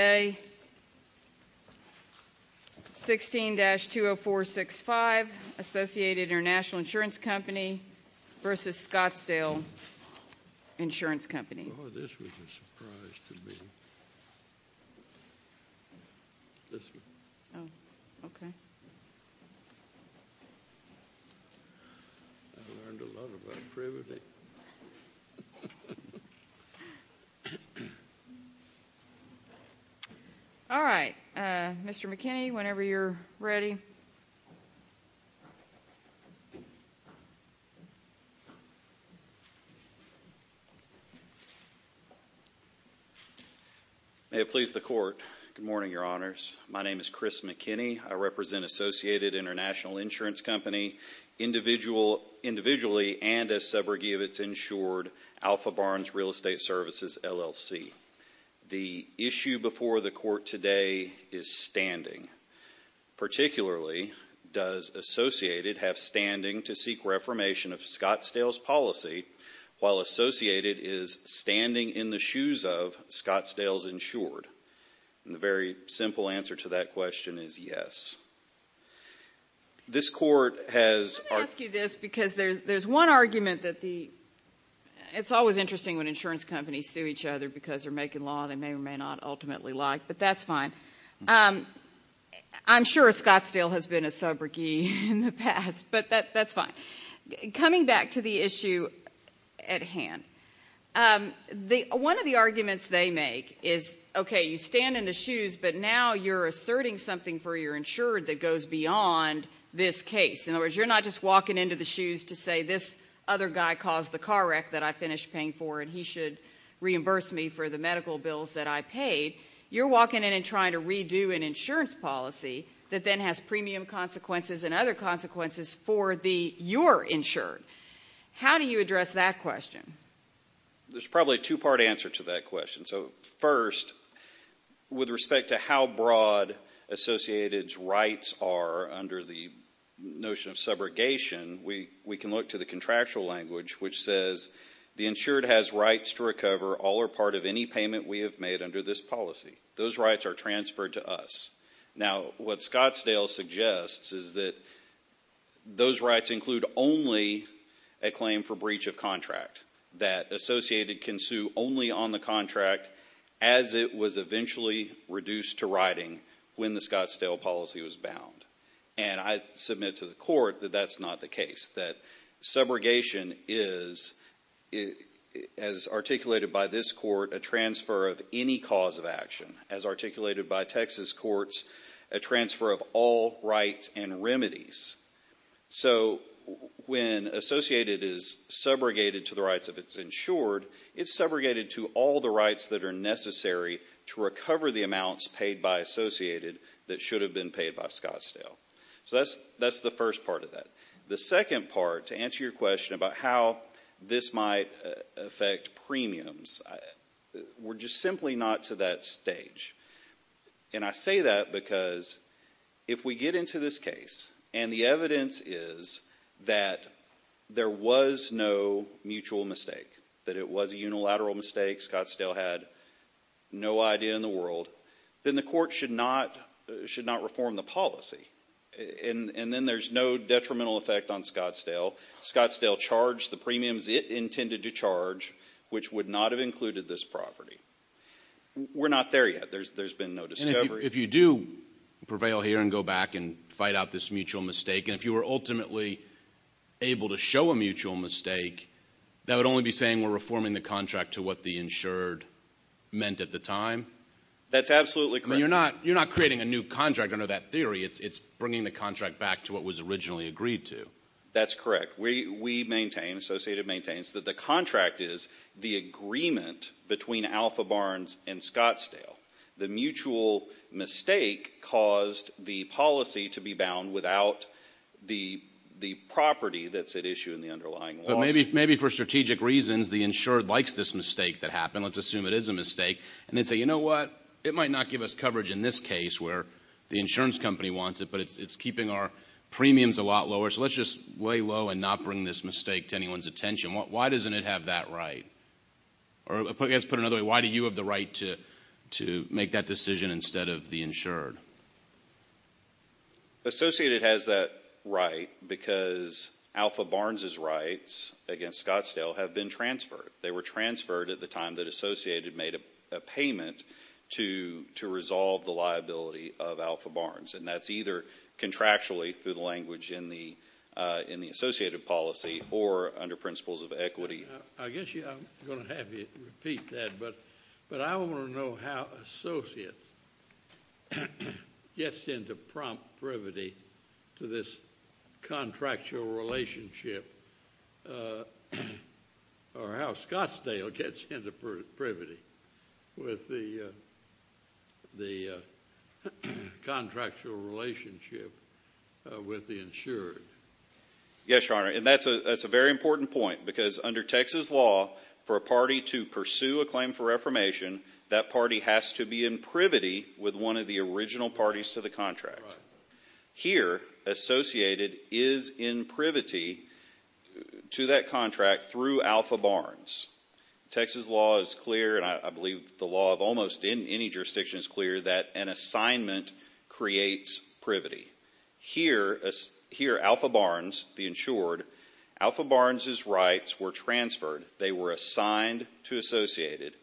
A. 16-20465, Associated International Insurance Company v. Scottsdale Insurance Company. Oh, this was a surprise to me. This one. Oh, okay. I learned a lot about privilege. All right. Mr. McKinney, whenever you're ready. May it please the Court. Good morning, Your Honors. My name is Chris McKinney. I represent Associated International Insurance Company, individually and as subrogee of its insured, Alpha Barnes Real Estate Services, LLC. The issue before the Court today is standing. Particularly, does Associated have standing to seek reformation of Scottsdale's policy while Associated is standing in the shoes of Scottsdale's insured? The very simple answer to that question is yes. This Court has Let me ask you this because there's one argument that the It's always interesting when insurance companies sue each other because they're making law they may or may not ultimately like, but that's fine. I'm sure Scottsdale has been a subrogee in the past, but that's fine. Coming back to the issue at hand. One of the arguments they make is, okay, you stand in the shoes, but now you're asserting something for your insured that goes beyond this case. In other words, you're not just walking into the shoes to say this other guy caused the car wreck that I finished paying for, and he should reimburse me for the medical bills that I paid. You're walking in and trying to redo an insurance policy that then has premium consequences and other consequences for your insured. How do you address that question? There's probably a two-part answer to that question. First, with respect to how broad Associated's rights are under the notion of subrogation, we can look to the contractual language, which says the insured has rights to recover all or part of any payment we have made under this policy. Those rights are transferred to us. Now, what Scottsdale suggests is that those rights include only a claim for breach of contract that Associated can sue only on the contract as it was eventually reduced to writing when the Scottsdale policy was bound. And I submit to the court that that's not the case, that subrogation is, as articulated by this court, a transfer of any cause of action. As articulated by Texas courts, a transfer of all rights and remedies. So when Associated is subrogated to the rights of its insured, it's subrogated to all the rights that are necessary to recover the amounts paid by Associated that should have been paid by Scottsdale. So that's the first part of that. The second part, to answer your question about how this might affect premiums, we're just simply not to that stage. And I say that because if we get into this case and the evidence is that there was no mutual mistake, that it was a unilateral mistake, Scottsdale had no idea in the world, then the court should not reform the policy. And then there's no detrimental effect on Scottsdale. Scottsdale charged the premiums it intended to charge, which would not have included this property. We're not there yet. There's been no discovery. And if you do prevail here and go back and fight out this mutual mistake, and if you were ultimately able to show a mutual mistake, that would only be saying we're reforming the contract to what the insured meant at the time? That's absolutely correct. I mean, you're not creating a new contract under that theory. It's bringing the contract back to what was originally agreed to. That's correct. We maintain, Associated maintains, that the contract is the agreement between Alpha Barnes and Scottsdale. The mutual mistake caused the policy to be bound without the property that's at issue in the underlying laws. But maybe for strategic reasons the insured likes this mistake that happened. Let's assume it is a mistake. And then say, you know what? It might not give us coverage in this case where the insurance company wants it, but it's keeping our premiums a lot lower, so let's just lay low and not bring this mistake to anyone's attention. Why doesn't it have that right? Or let's put it another way. Why do you have the right to make that decision instead of the insured? Associated has that right because Alpha Barnes' rights against Scottsdale have been transferred. They were transferred at the time that Associated made a payment to resolve the liability of Alpha Barnes. And that's either contractually through the language in the Associated policy or under principles of equity. I'm going to have you repeat that, but I want to know how Associated gets into prompt privity to this contractual relationship or how Scottsdale gets into privity with the contractual relationship with the insured. Yes, Your Honor. And that's a very important point because under Texas law, for a party to pursue a claim for reformation, that party has to be in privity with one of the original parties to the contract. Here, Associated is in privity to that contract through Alpha Barnes. Texas law is clear, and I believe the law of almost any jurisdiction is clear, that an assignment creates privity. Here, Alpha Barnes, the insured, Alpha Barnes' rights were transferred. They were assigned to Associated.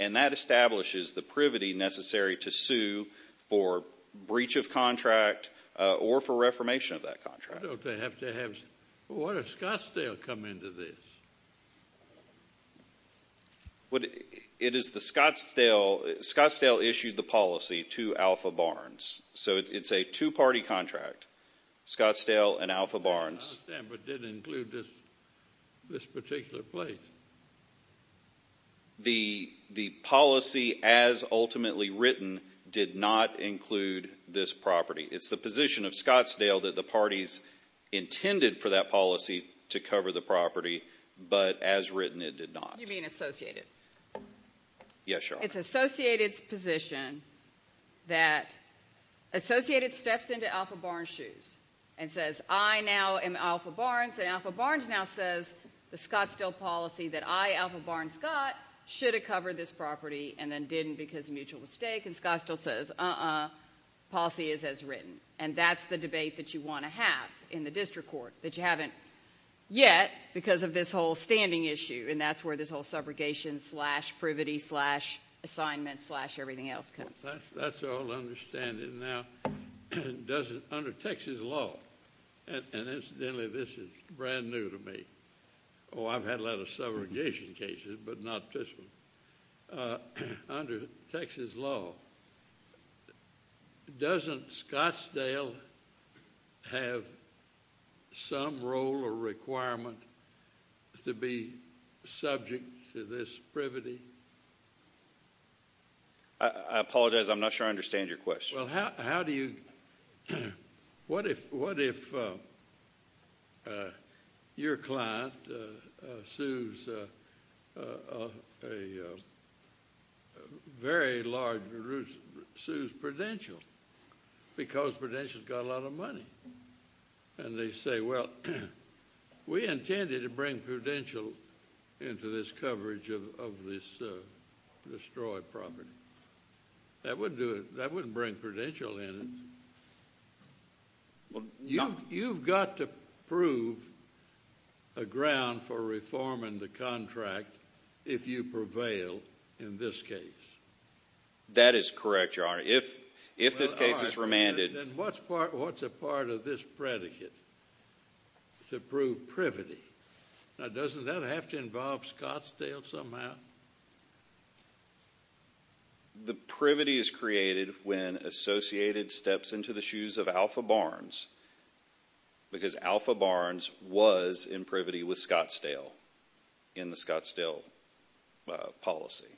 And that establishes the privity necessary to sue for breach of contract or for reformation of that contract. Don't they have to have – why does Scottsdale come into this? It is the Scottsdale – Scottsdale issued the policy to Alpha Barnes. So it's a two-party contract, Scottsdale and Alpha Barnes. I understand, but it didn't include this particular place. The policy as ultimately written did not include this property. It's the position of Scottsdale that the parties intended for that policy to cover the property, but as written it did not. Yes, Your Honor. It's Associated's position that Associated steps into Alpha Barnes' shoes and says, I now am Alpha Barnes, and Alpha Barnes now says the Scottsdale policy that I, Alpha Barnes, got should have covered this property and then didn't because of mutual mistake, and Scottsdale says, uh-uh, policy is as written. And that's the debate that you want to have in the district court that you haven't yet because of this whole standing issue, and that's where this whole subrogation-slash-privity-slash-assignment-slash-everything-else comes from. That's all I understand. Now, under Texas law – and incidentally, this is brand new to me. Oh, I've had a lot of subrogation cases, but not this one. Under Texas law, doesn't Scottsdale have some role or requirement to be subject to this privity? I apologize. I'm not sure I understand your question. Well, how do you – what if your client sues a very large – sues Prudential because Prudential's got a lot of money? And they say, well, we intended to bring Prudential into this coverage of this destroyed property. That wouldn't do it. That wouldn't bring Prudential in. You've got to prove a ground for reforming the contract if you prevail in this case. That is correct, Your Honor. If this case is remanded – Then what's a part of this predicate to prove privity? Now, doesn't that have to involve Scottsdale somehow? The privity is created when Associated steps into the shoes of Alpha Barnes because Alpha Barnes was in privity with Scottsdale in the Scottsdale policy.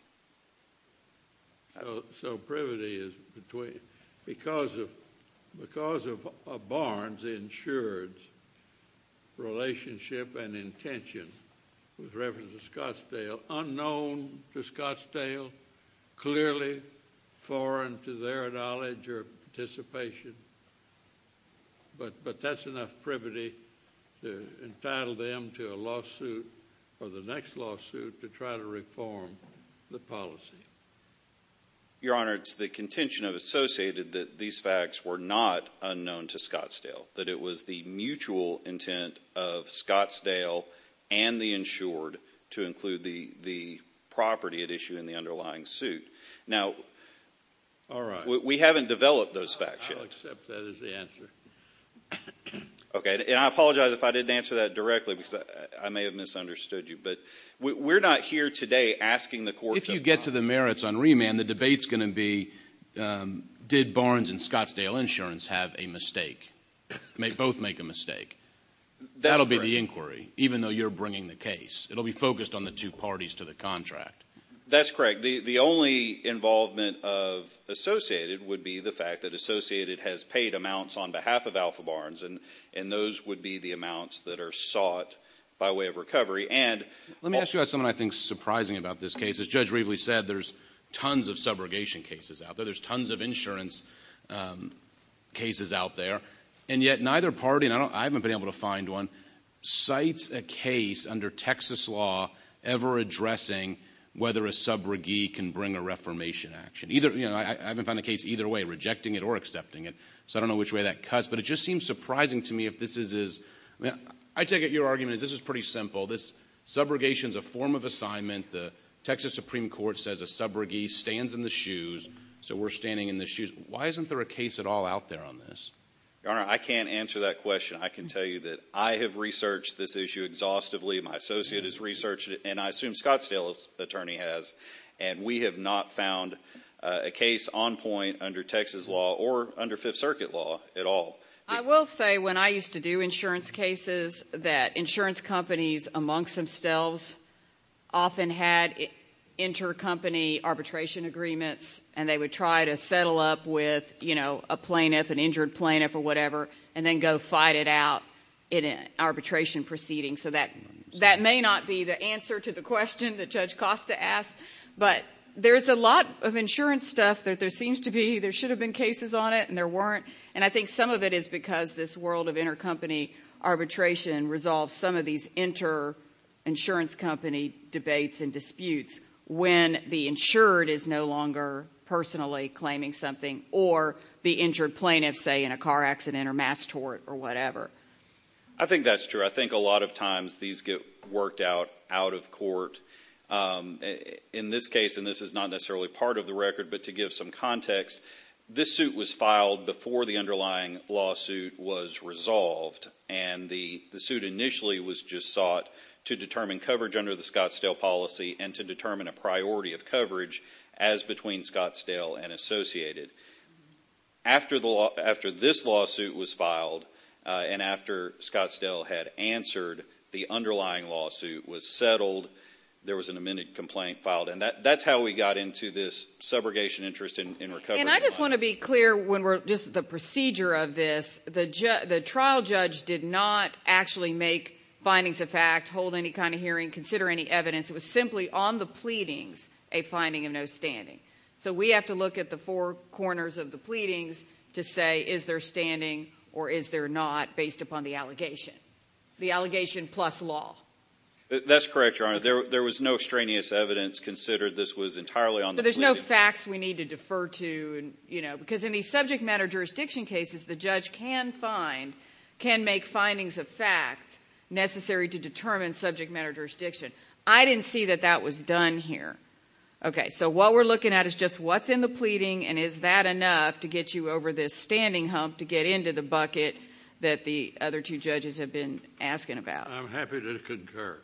So privity is between – because of Barnes' insured relationship and intention with Reverend Scottsdale, unknown to Scottsdale, clearly foreign to their knowledge or participation. But that's enough privity to entitle them to a lawsuit or the next lawsuit to try to reform the policy. Your Honor, it's the contention of Associated that these facts were not unknown to Scottsdale, that it was the mutual intent of Scottsdale and the insured to include the property at issue in the underlying suit. Now, we haven't developed those facts yet. I'll accept that as the answer. Okay. And I apologize if I didn't answer that directly because I may have misunderstood you. But we're not here today asking the court to – If you get to the merits on remand, the debate's going to be, did Barnes and Scottsdale Insurance have a mistake? May both make a mistake? That'll be the inquiry, even though you're bringing the case. It'll be focused on the two parties to the contract. That's correct. The only involvement of Associated would be the fact that Associated has paid amounts on behalf of Alpha Barnes, and those would be the amounts that are sought by way of recovery. And – Let me ask you about something I think is surprising about this case. As Judge Reveley said, there's tons of subrogation cases out there. There's tons of insurance cases out there. And yet neither party – and I haven't been able to find one – whether a subrogee can bring a reformation action. I haven't found a case either way, rejecting it or accepting it. So I don't know which way that cuts. But it just seems surprising to me if this is – I take it your argument is this is pretty simple. This subrogation is a form of assignment. The Texas Supreme Court says a subrogee stands in the shoes, so we're standing in the shoes. Why isn't there a case at all out there on this? Your Honor, I can't answer that question. I can tell you that I have researched this issue exhaustively. My associate has researched it, and I assume Scottsdale's attorney has. And we have not found a case on point under Texas law or under Fifth Circuit law at all. I will say when I used to do insurance cases that insurance companies amongst themselves often had intercompany arbitration agreements, and they would try to settle up with a plaintiff, an injured plaintiff or whatever, and then go fight it out in an arbitration proceeding. So that may not be the answer to the question that Judge Costa asked. But there is a lot of insurance stuff that there seems to be. There should have been cases on it, and there weren't. And I think some of it is because this world of intercompany arbitration resolves some of these interinsurance company debates and disputes when the insured is no longer personally claiming something or the injured plaintiff, say, in a car accident or mass tort or whatever. I think that's true. I think a lot of times these get worked out out of court. In this case, and this is not necessarily part of the record, but to give some context, this suit was filed before the underlying lawsuit was resolved. And the suit initially was just sought to determine coverage under the Scottsdale policy and to determine a priority of coverage as between Scottsdale and Associated. After this lawsuit was filed and after Scottsdale had answered, the underlying lawsuit was settled. There was an amended complaint filed. And that's how we got into this subrogation interest in recovery. And I just want to be clear when we're just at the procedure of this. The trial judge did not actually make findings of fact, hold any kind of hearing, consider any evidence. It was simply on the pleadings a finding of no standing. So we have to look at the four corners of the pleadings to say is there standing or is there not based upon the allegation. The allegation plus law. That's correct, Your Honor. There was no extraneous evidence considered. This was entirely on the pleadings. So there's no facts we need to defer to, you know, because in these subject matter jurisdiction cases the judge can find, can make findings of fact necessary to determine subject matter jurisdiction. I didn't see that that was done here. Okay. So what we're looking at is just what's in the pleading and is that enough to get you over this standing hump to get into the bucket that the other two judges have been asking about. I'm happy to concur.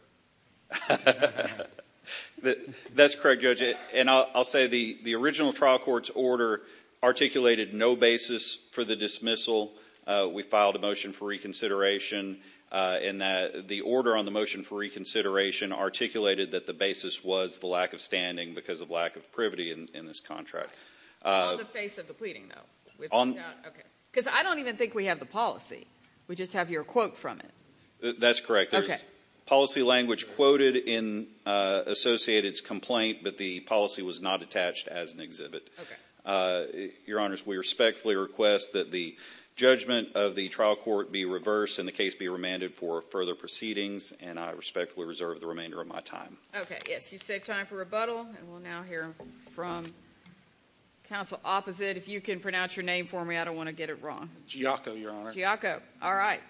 That's correct, Judge. And I'll say the original trial court's order articulated no basis for the dismissal. We filed a motion for reconsideration. And the order on the motion for reconsideration articulated that the basis was the lack of standing because of lack of privity in this contract. On the face of the pleading, though. Because I don't even think we have the policy. We just have your quote from it. That's correct. There's policy language quoted in Associated's complaint, but the policy was not attached as an exhibit. Your Honors, we respectfully request that the judgment of the trial court be reversed and the case be remanded for further proceedings, and I respectfully reserve the remainder of my time. Okay. Yes, you've saved time for rebuttal. And we'll now hear from counsel opposite. If you can pronounce your name for me, I don't want to get it wrong. Giacco, Your Honor. Giacco. All right.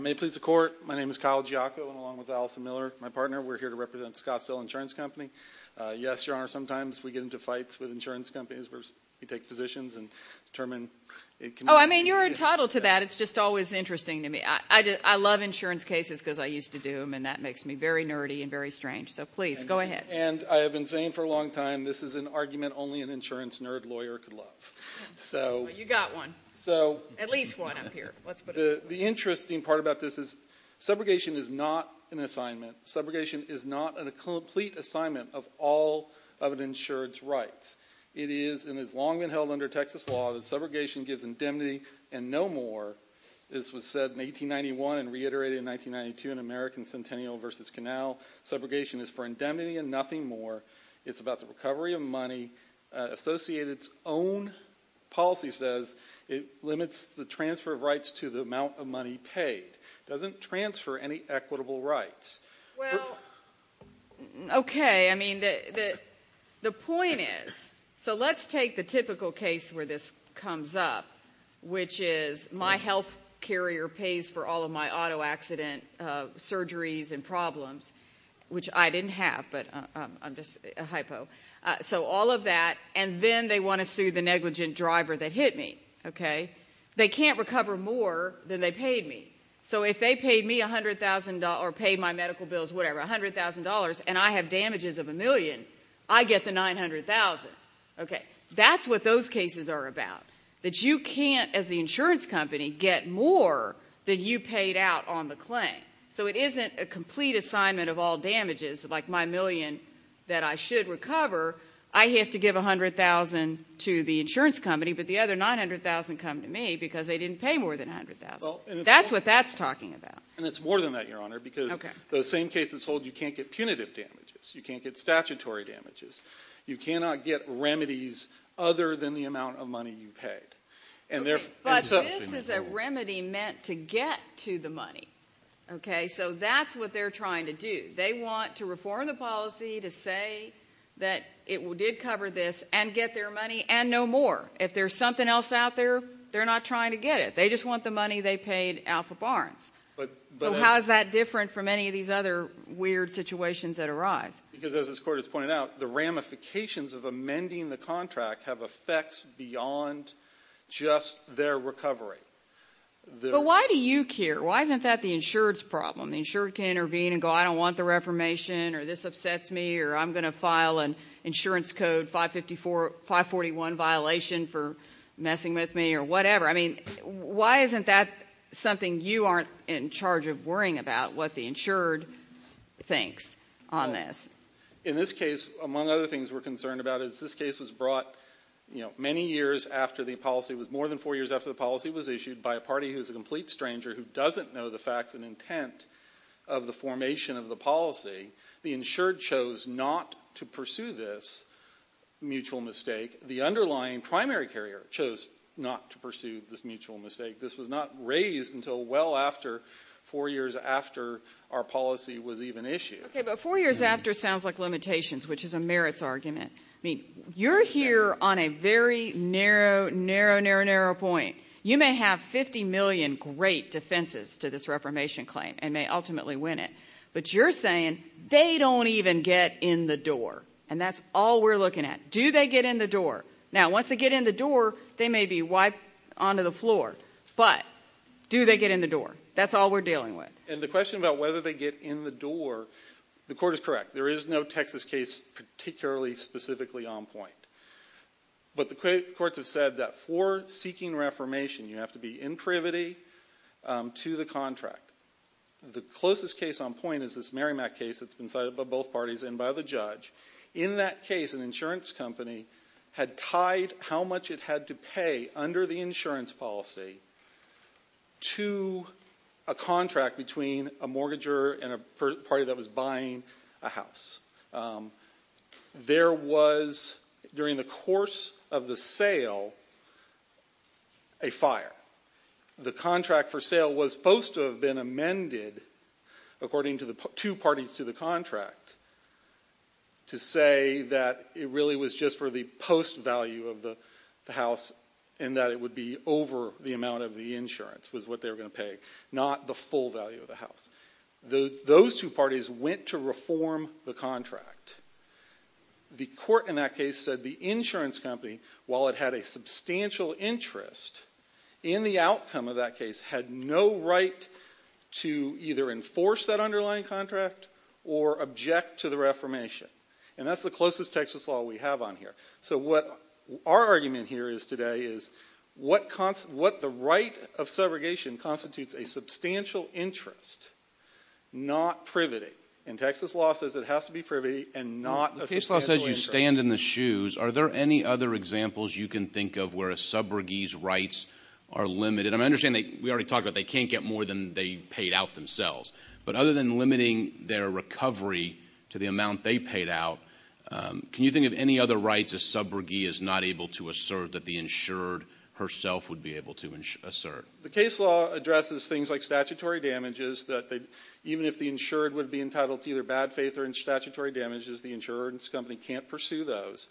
May it please the Court, my name is Kyle Giacco, along with Allison Miller, my partner. We're here to represent Scottsdale Insurance Company. Yes, Your Honor, sometimes we get into fights with insurance companies where we take positions and determine it can be a case. Oh, I mean, you're entitled to that. It's just always interesting to me. I love insurance cases because I used to do them, and that makes me very nerdy and very strange. So please, go ahead. And I have been saying for a long time, this is an argument only an insurance nerd lawyer could love. You got one. At least one up here. The interesting part about this is, subrogation is not an assignment. Subrogation is not a complete assignment of all of an insured's rights. It is and has long been held under Texas law that subrogation gives indemnity and no more. This was said in 1891 and reiterated in 1992 in American Centennial v. Canal. Subrogation is for indemnity and nothing more. It's about the recovery of money. Associated's own policy says it limits the transfer of rights to the amount of money paid. It doesn't transfer any equitable rights. Well, okay. I mean, the point is, so let's take the typical case where this comes up, which is my health carrier pays for all of my auto accident surgeries and problems, which I didn't have, but I'm just a hypo. So all of that, and then they want to sue the negligent driver that hit me. They can't recover more than they paid me. So if they paid me $100,000 or paid my medical bills, whatever, $100,000, and I have damages of a million, I get the $900,000. That's what those cases are about, that you can't, as the insurance company, get more than you paid out on the claim. So it isn't a complete assignment of all damages, like my million that I should recover. I have to give $100,000 to the insurance company, but the other $900,000 come to me because they didn't pay more than $100,000. That's what that's talking about. And it's more than that, Your Honor, because those same cases hold you can't get punitive damages. You can't get statutory damages. You cannot get remedies other than the amount of money you paid. But this is a remedy meant to get to the money, okay? So that's what they're trying to do. They want to reform the policy to say that it did cover this and get their money and no more. If there's something else out there, they're not trying to get it. They just want the money they paid out for Barnes. So how is that different from any of these other weird situations that arise? Because as this Court has pointed out, the ramifications of amending the contract have effects beyond just their recovery. But why do you care? Why isn't that the insured's problem? The insured can intervene and go, I don't want the reformation, or this upsets me, or I'm going to file an insurance code 541 violation for messing with me or whatever. I mean, why isn't that something you aren't in charge of worrying about, what the insured thinks on this? In this case, among other things we're concerned about is this case was brought many years after the policy. It was more than four years after the policy was issued by a party who is a complete stranger who doesn't know the facts and intent of the formation of the policy. The insured chose not to pursue this mutual mistake. The underlying primary carrier chose not to pursue this mutual mistake. This was not raised until well after four years after our policy was even issued. Okay, but four years after sounds like limitations, which is a merits argument. I mean, you're here on a very narrow, narrow, narrow, narrow point. You may have 50 million great defenses to this reformation claim and may ultimately win it, but you're saying they don't even get in the door, and that's all we're looking at. Do they get in the door? Now, once they get in the door, they may be wiped onto the floor, but do they get in the door? That's all we're dealing with. And the question about whether they get in the door, the court is correct. There is no Texas case particularly specifically on point, but the courts have said that for seeking reformation you have to be in privity to the contract. The closest case on point is this Merrimack case that's been cited by both parties and by the judge. In that case, an insurance company had tied how much it had to pay under the insurance policy to a contract between a mortgager and a party that was buying a house. There was, during the course of the sale, a fire. The contract for sale was supposed to have been amended according to the two parties to the contract to say that it really was just for the post value of the house and that it would be over the amount of the insurance was what they were going to pay, not the full value of the house. Those two parties went to reform the contract. The court in that case said the insurance company, while it had a substantial interest, in the outcome of that case had no right to either enforce that underlying contract or object to the reformation. And that's the closest Texas law we have on here. So what our argument here today is what the right of subrogation constitutes a substantial interest, not privity. And Texas law says it has to be privity and not a substantial interest. The case law says you stand in the shoes. Are there any other examples you can think of where a subrogee's rights are limited? I understand we already talked about they can't get more than they paid out themselves. But other than limiting their recovery to the amount they paid out, can you think of any other rights a subrogee is not able to assert that the insured herself would be able to assert? The case law addresses things like statutory damages, that even if the insured would be entitled to either bad faith or statutory damages, the insurance company can't pursue those.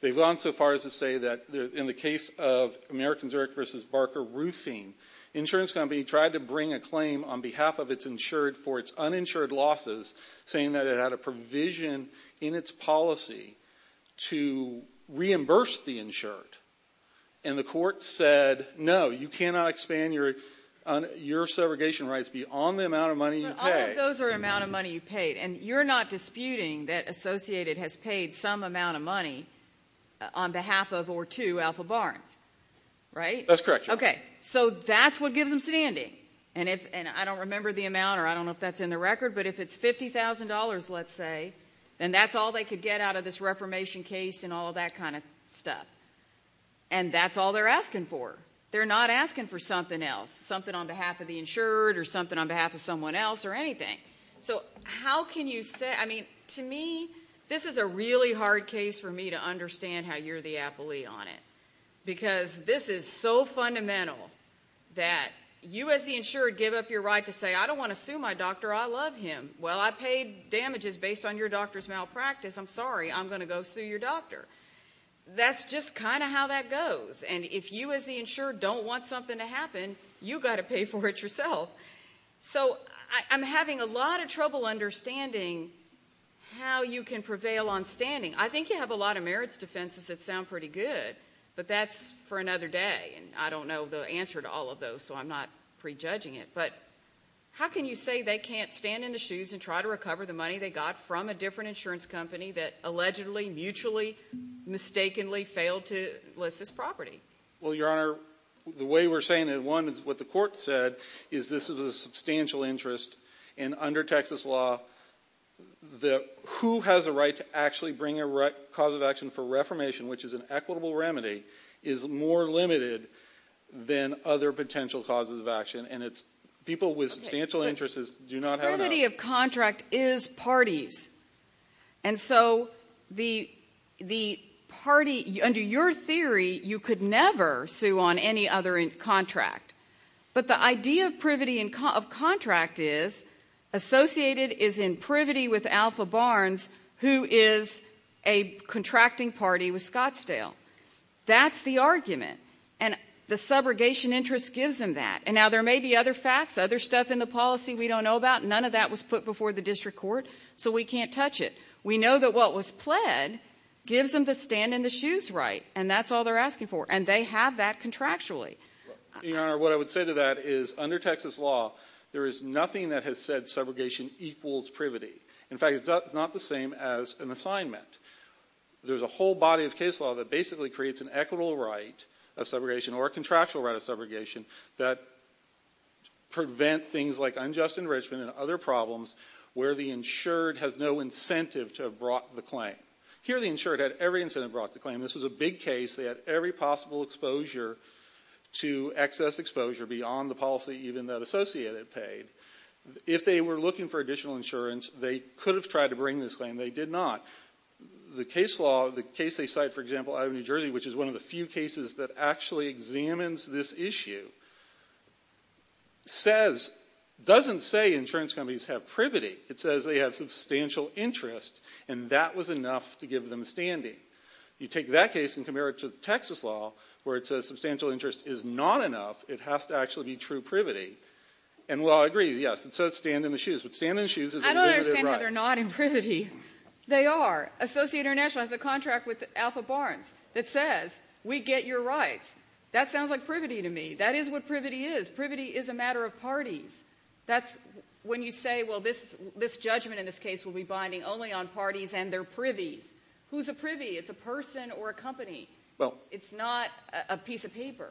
They've gone so far as to say that in the case of American Zurich v. Barker Roofing, the insurance company tried to bring a claim on behalf of its insured for its uninsured losses, saying that it had a provision in its policy to reimburse the insured. And the court said, no, you cannot expand your segregation rights beyond the amount of money you paid. But all of those are amount of money you paid. And you're not disputing that Associated has paid some amount of money on behalf of or to Alpha Barnes, right? That's correct, Your Honor. Okay, so that's what gives them standing. And I don't remember the amount, or I don't know if that's in the record, but if it's $50,000, let's say, then that's all they could get out of this reformation case and all that kind of stuff. And that's all they're asking for. They're not asking for something else, something on behalf of the insured or something on behalf of someone else or anything. So how can you say – I mean, to me, this is a really hard case for me to understand how you're the appellee on it, because this is so fundamental that you as the insured give up your right to say, I don't want to sue my doctor. I love him. Well, I paid damages based on your doctor's malpractice. I'm sorry. I'm going to go sue your doctor. That's just kind of how that goes. And if you as the insured don't want something to happen, you've got to pay for it yourself. So I'm having a lot of trouble understanding how you can prevail on standing. I think you have a lot of merits defenses that sound pretty good, but that's for another day. And I don't know the answer to all of those, so I'm not prejudging it. But how can you say they can't stand in the shoes and try to recover the money they got from a different insurance company that allegedly, mutually, mistakenly failed to list this property? Well, Your Honor, the way we're saying it, one, is what the court said, is this is a substantial interest, and under Texas law, who has a right to actually bring a cause of action for reformation, which is an equitable remedy, is more limited than other potential causes of action, and it's people with substantial interests do not have that. Privity of contract is parties. And so the party, under your theory, you could never sue on any other contract. But the idea of privity of contract is associated is in privity with Alpha Barnes, who is a contracting party with Scottsdale. That's the argument. And the subrogation interest gives them that. And now there may be other facts, other stuff in the policy we don't know about. None of that was put before the district court, so we can't touch it. We know that what was pled gives them the stand in the shoes right, and that's all they're asking for, and they have that contractually. Your Honor, what I would say to that is under Texas law, there is nothing that has said subrogation equals privity. In fact, it's not the same as an assignment. There's a whole body of case law that basically creates an equitable right of subrogation or a contractual right of subrogation that prevent things like unjust enrichment and other problems where the insured has no incentive to have brought the claim. Here the insured had every incentive to have brought the claim. This was a big case. They had every possible exposure to excess exposure beyond the policy even that associate had paid. If they were looking for additional insurance, they could have tried to bring this claim. They did not. The case law, the case they cite, for example, out of New Jersey, which is one of the few cases that actually examines this issue, doesn't say insurance companies have privity. It says they have substantial interest, and that was enough to give them standing. You take that case and compare it to Texas law where it says substantial interest is not enough. It has to actually be true privity. And while I agree, yes, it says stand in the shoes, but stand in the shoes is a limited right. I don't understand how they're not in privity. They are. Associate International has a contract with Alpha Barnes that says we get your rights. That sounds like privity to me. That is what privity is. Privity is a matter of parties. That's when you say, well, this judgment in this case will be binding only on parties and their privies. Who's a privy? It's a person or a company. It's not a piece of paper.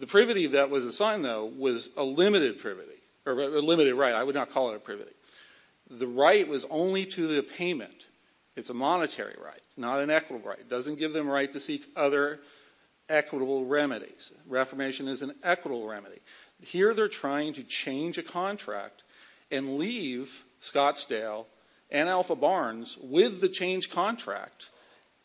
The privity that was assigned, though, was a limited privity or a limited right. I would not call it a privity. The right was only to the payment. It's a monetary right, not an equitable right. It doesn't give them a right to seek other equitable remedies. Reformation is an equitable remedy. Here they're trying to change a contract and leave Scottsdale and Alpha Barnes with the changed contract.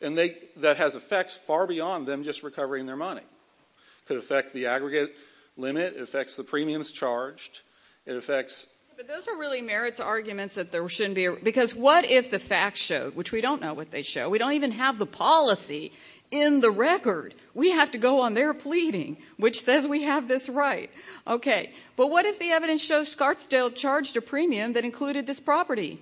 And that has effects far beyond them just recovering their money. It could affect the aggregate limit. It affects the premiums charged. It affects ---- But those are really merits arguments that there shouldn't be. Because what if the facts show, which we don't know what they show. We don't even have the policy in the record. We have to go on their pleading, which says we have this right. Okay. But what if the evidence shows Scottsdale charged a premium that included this property?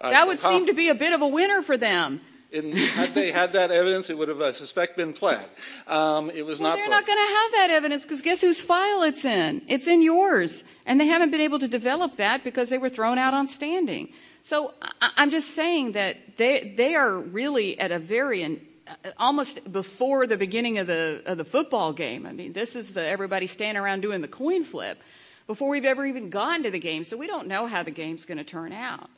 That would seem to be a bit of a winner for them. Had they had that evidence, it would have, I suspect, been flat. Well, they're not going to have that evidence because guess whose file it's in. It's in yours. And they haven't been able to develop that because they were thrown out on standing. So I'm just saying that they are really at a very almost before the beginning of the football game. I mean, this is everybody standing around doing the coin flip before we've ever even gone to the game. So we don't know how the game's going to turn out.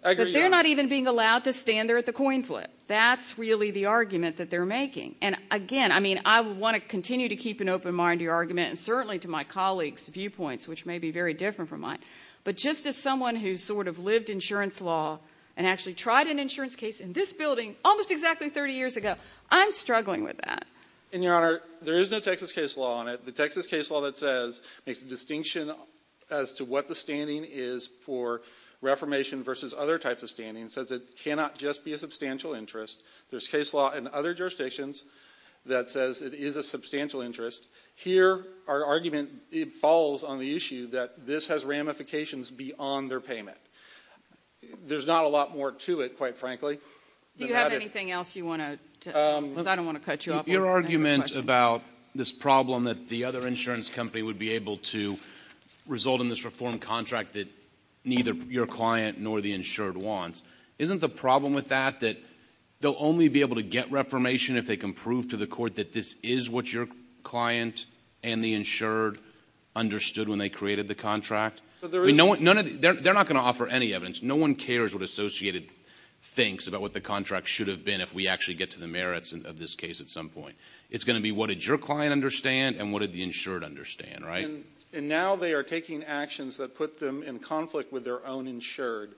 But they're not even being allowed to stand there at the coin flip. That's really the argument that they're making. And, again, I mean I want to continue to keep an open mind to your argument and certainly to my colleagues' viewpoints, which may be very different from mine, but just as someone who's sort of lived insurance law and actually tried an insurance case in this building almost exactly 30 years ago, I'm struggling with that. And, Your Honor, there is no Texas case law on it. The Texas case law that says makes a distinction as to what the standing is for Reformation versus other types of standings says it cannot just be a substantial interest. There's case law in other jurisdictions that says it is a substantial interest. Here our argument falls on the issue that this has ramifications beyond their payment. There's not a lot more to it, quite frankly. Do you have anything else you want to say? Because I don't want to cut you off. Your argument about this problem that the other insurance company would be able to result in this reform contract that neither your client nor the insured wants, isn't the problem with that that they'll only be able to get reformation if they can prove to the court that this is what your client and the insured understood when they created the contract? They're not going to offer any evidence. No one cares what Associated thinks about what the contract should have been if we actually get to the merits of this case at some point. It's going to be what did your client understand and what did the insured understand, right? And now they are taking actions that put them in conflict with their own insured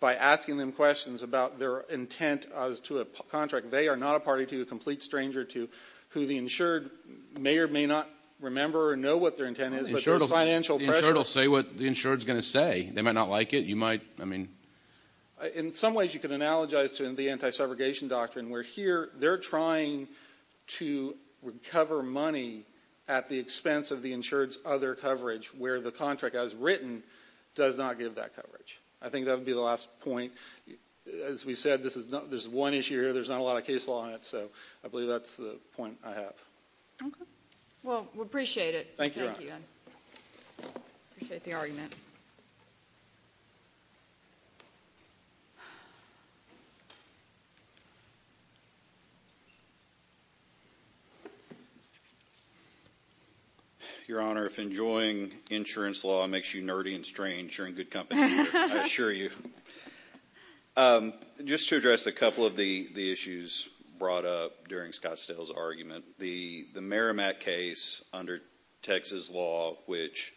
by asking them questions about their intent as to a contract. They are not a party to, a complete stranger to who the insured may or may not remember or know what their intent is, but there's financial pressure. The insured will say what the insured is going to say. They might not like it. You might, I mean. In some ways you can analogize to the anti-segregation doctrine where here they're trying to recover money at the expense of the insured's other coverage where the contract as written does not give that coverage. I think that would be the last point. As we said, there's one issue here. There's not a lot of case law in it, so I believe that's the point I have. Okay. Well, we appreciate it. Thank you. Appreciate the argument. Your Honor, if enjoying insurance law makes you nerdy and strange, you're in good company here. I assure you. Just to address a couple of the issues brought up during Scott Stahl's argument. The Merrimack case under Texas law, which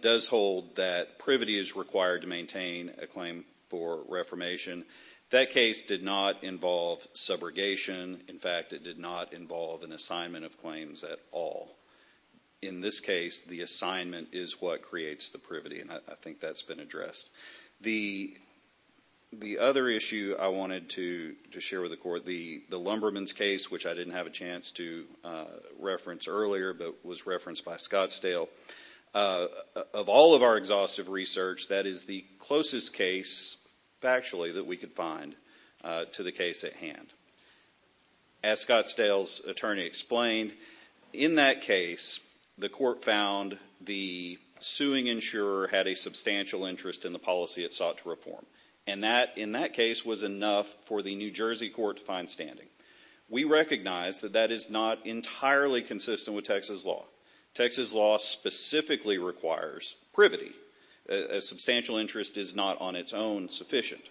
does hold that privity is required to maintain a claim for reformation, that case did not involve subrogation. In fact, it did not involve an assignment of claims at all. In this case, the assignment is what creates the privity, and I think that's been addressed. The other issue I wanted to share with the Court, the Lumberman's case, which I didn't have a chance to reference earlier but was referenced by Scott Stahl, of all of our exhaustive research, that is the closest case, factually, that we could find to the case at hand. As Scott Stahl's attorney explained, in that case, the Court found the suing insurer had a substantial interest in the policy it sought to reform, and that, in that case, was enough for the New Jersey court to find standing. We recognize that that is not entirely consistent with Texas law. Texas law specifically requires privity. A substantial interest is not, on its own, sufficient.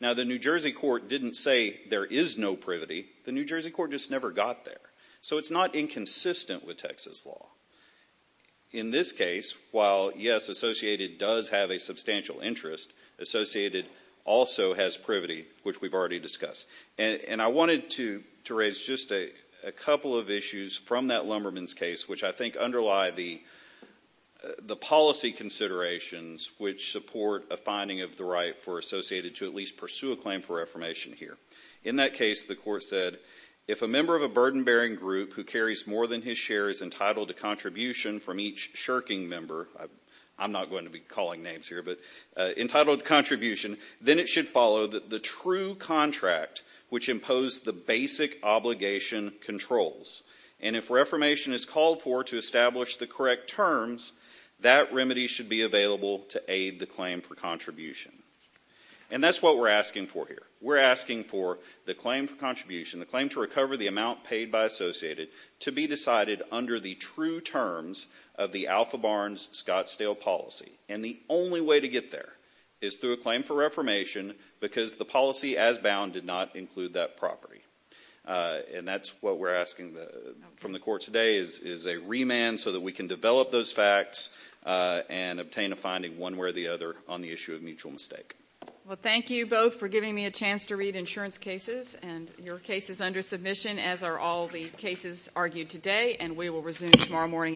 Now, the New Jersey court didn't say there is no privity. The New Jersey court just never got there. So it's not inconsistent with Texas law. In this case, while, yes, Associated does have a substantial interest, Associated also has privity, which we've already discussed. And I wanted to raise just a couple of issues from that Lumberman's case which I think underlie the policy considerations which support a finding of the right for Associated to at least pursue a claim for reformation here. In that case, the Court said, if a member of a burden-bearing group who carries more than his share is entitled to contribution from each shirking member, I'm not going to be calling names here, but entitled to contribution, then it should follow the true contract which imposed the basic obligation controls. And if reformation is called for to establish the correct terms, that remedy should be available to aid the claim for contribution. And that's what we're asking for here. We're asking for the claim for contribution, the claim to recover the amount paid by Associated, to be decided under the true terms of the Alpha Barnes Scottsdale policy. And the only way to get there is through a claim for reformation because the policy as bound did not include that property. And that's what we're asking from the Court today, is a remand so that we can develop those facts and obtain a finding one way or the other on the issue of mutual mistake. Well, thank you both for giving me a chance to read insurance cases. And your case is under submission, as are all the cases argued today. And we will resume tomorrow morning.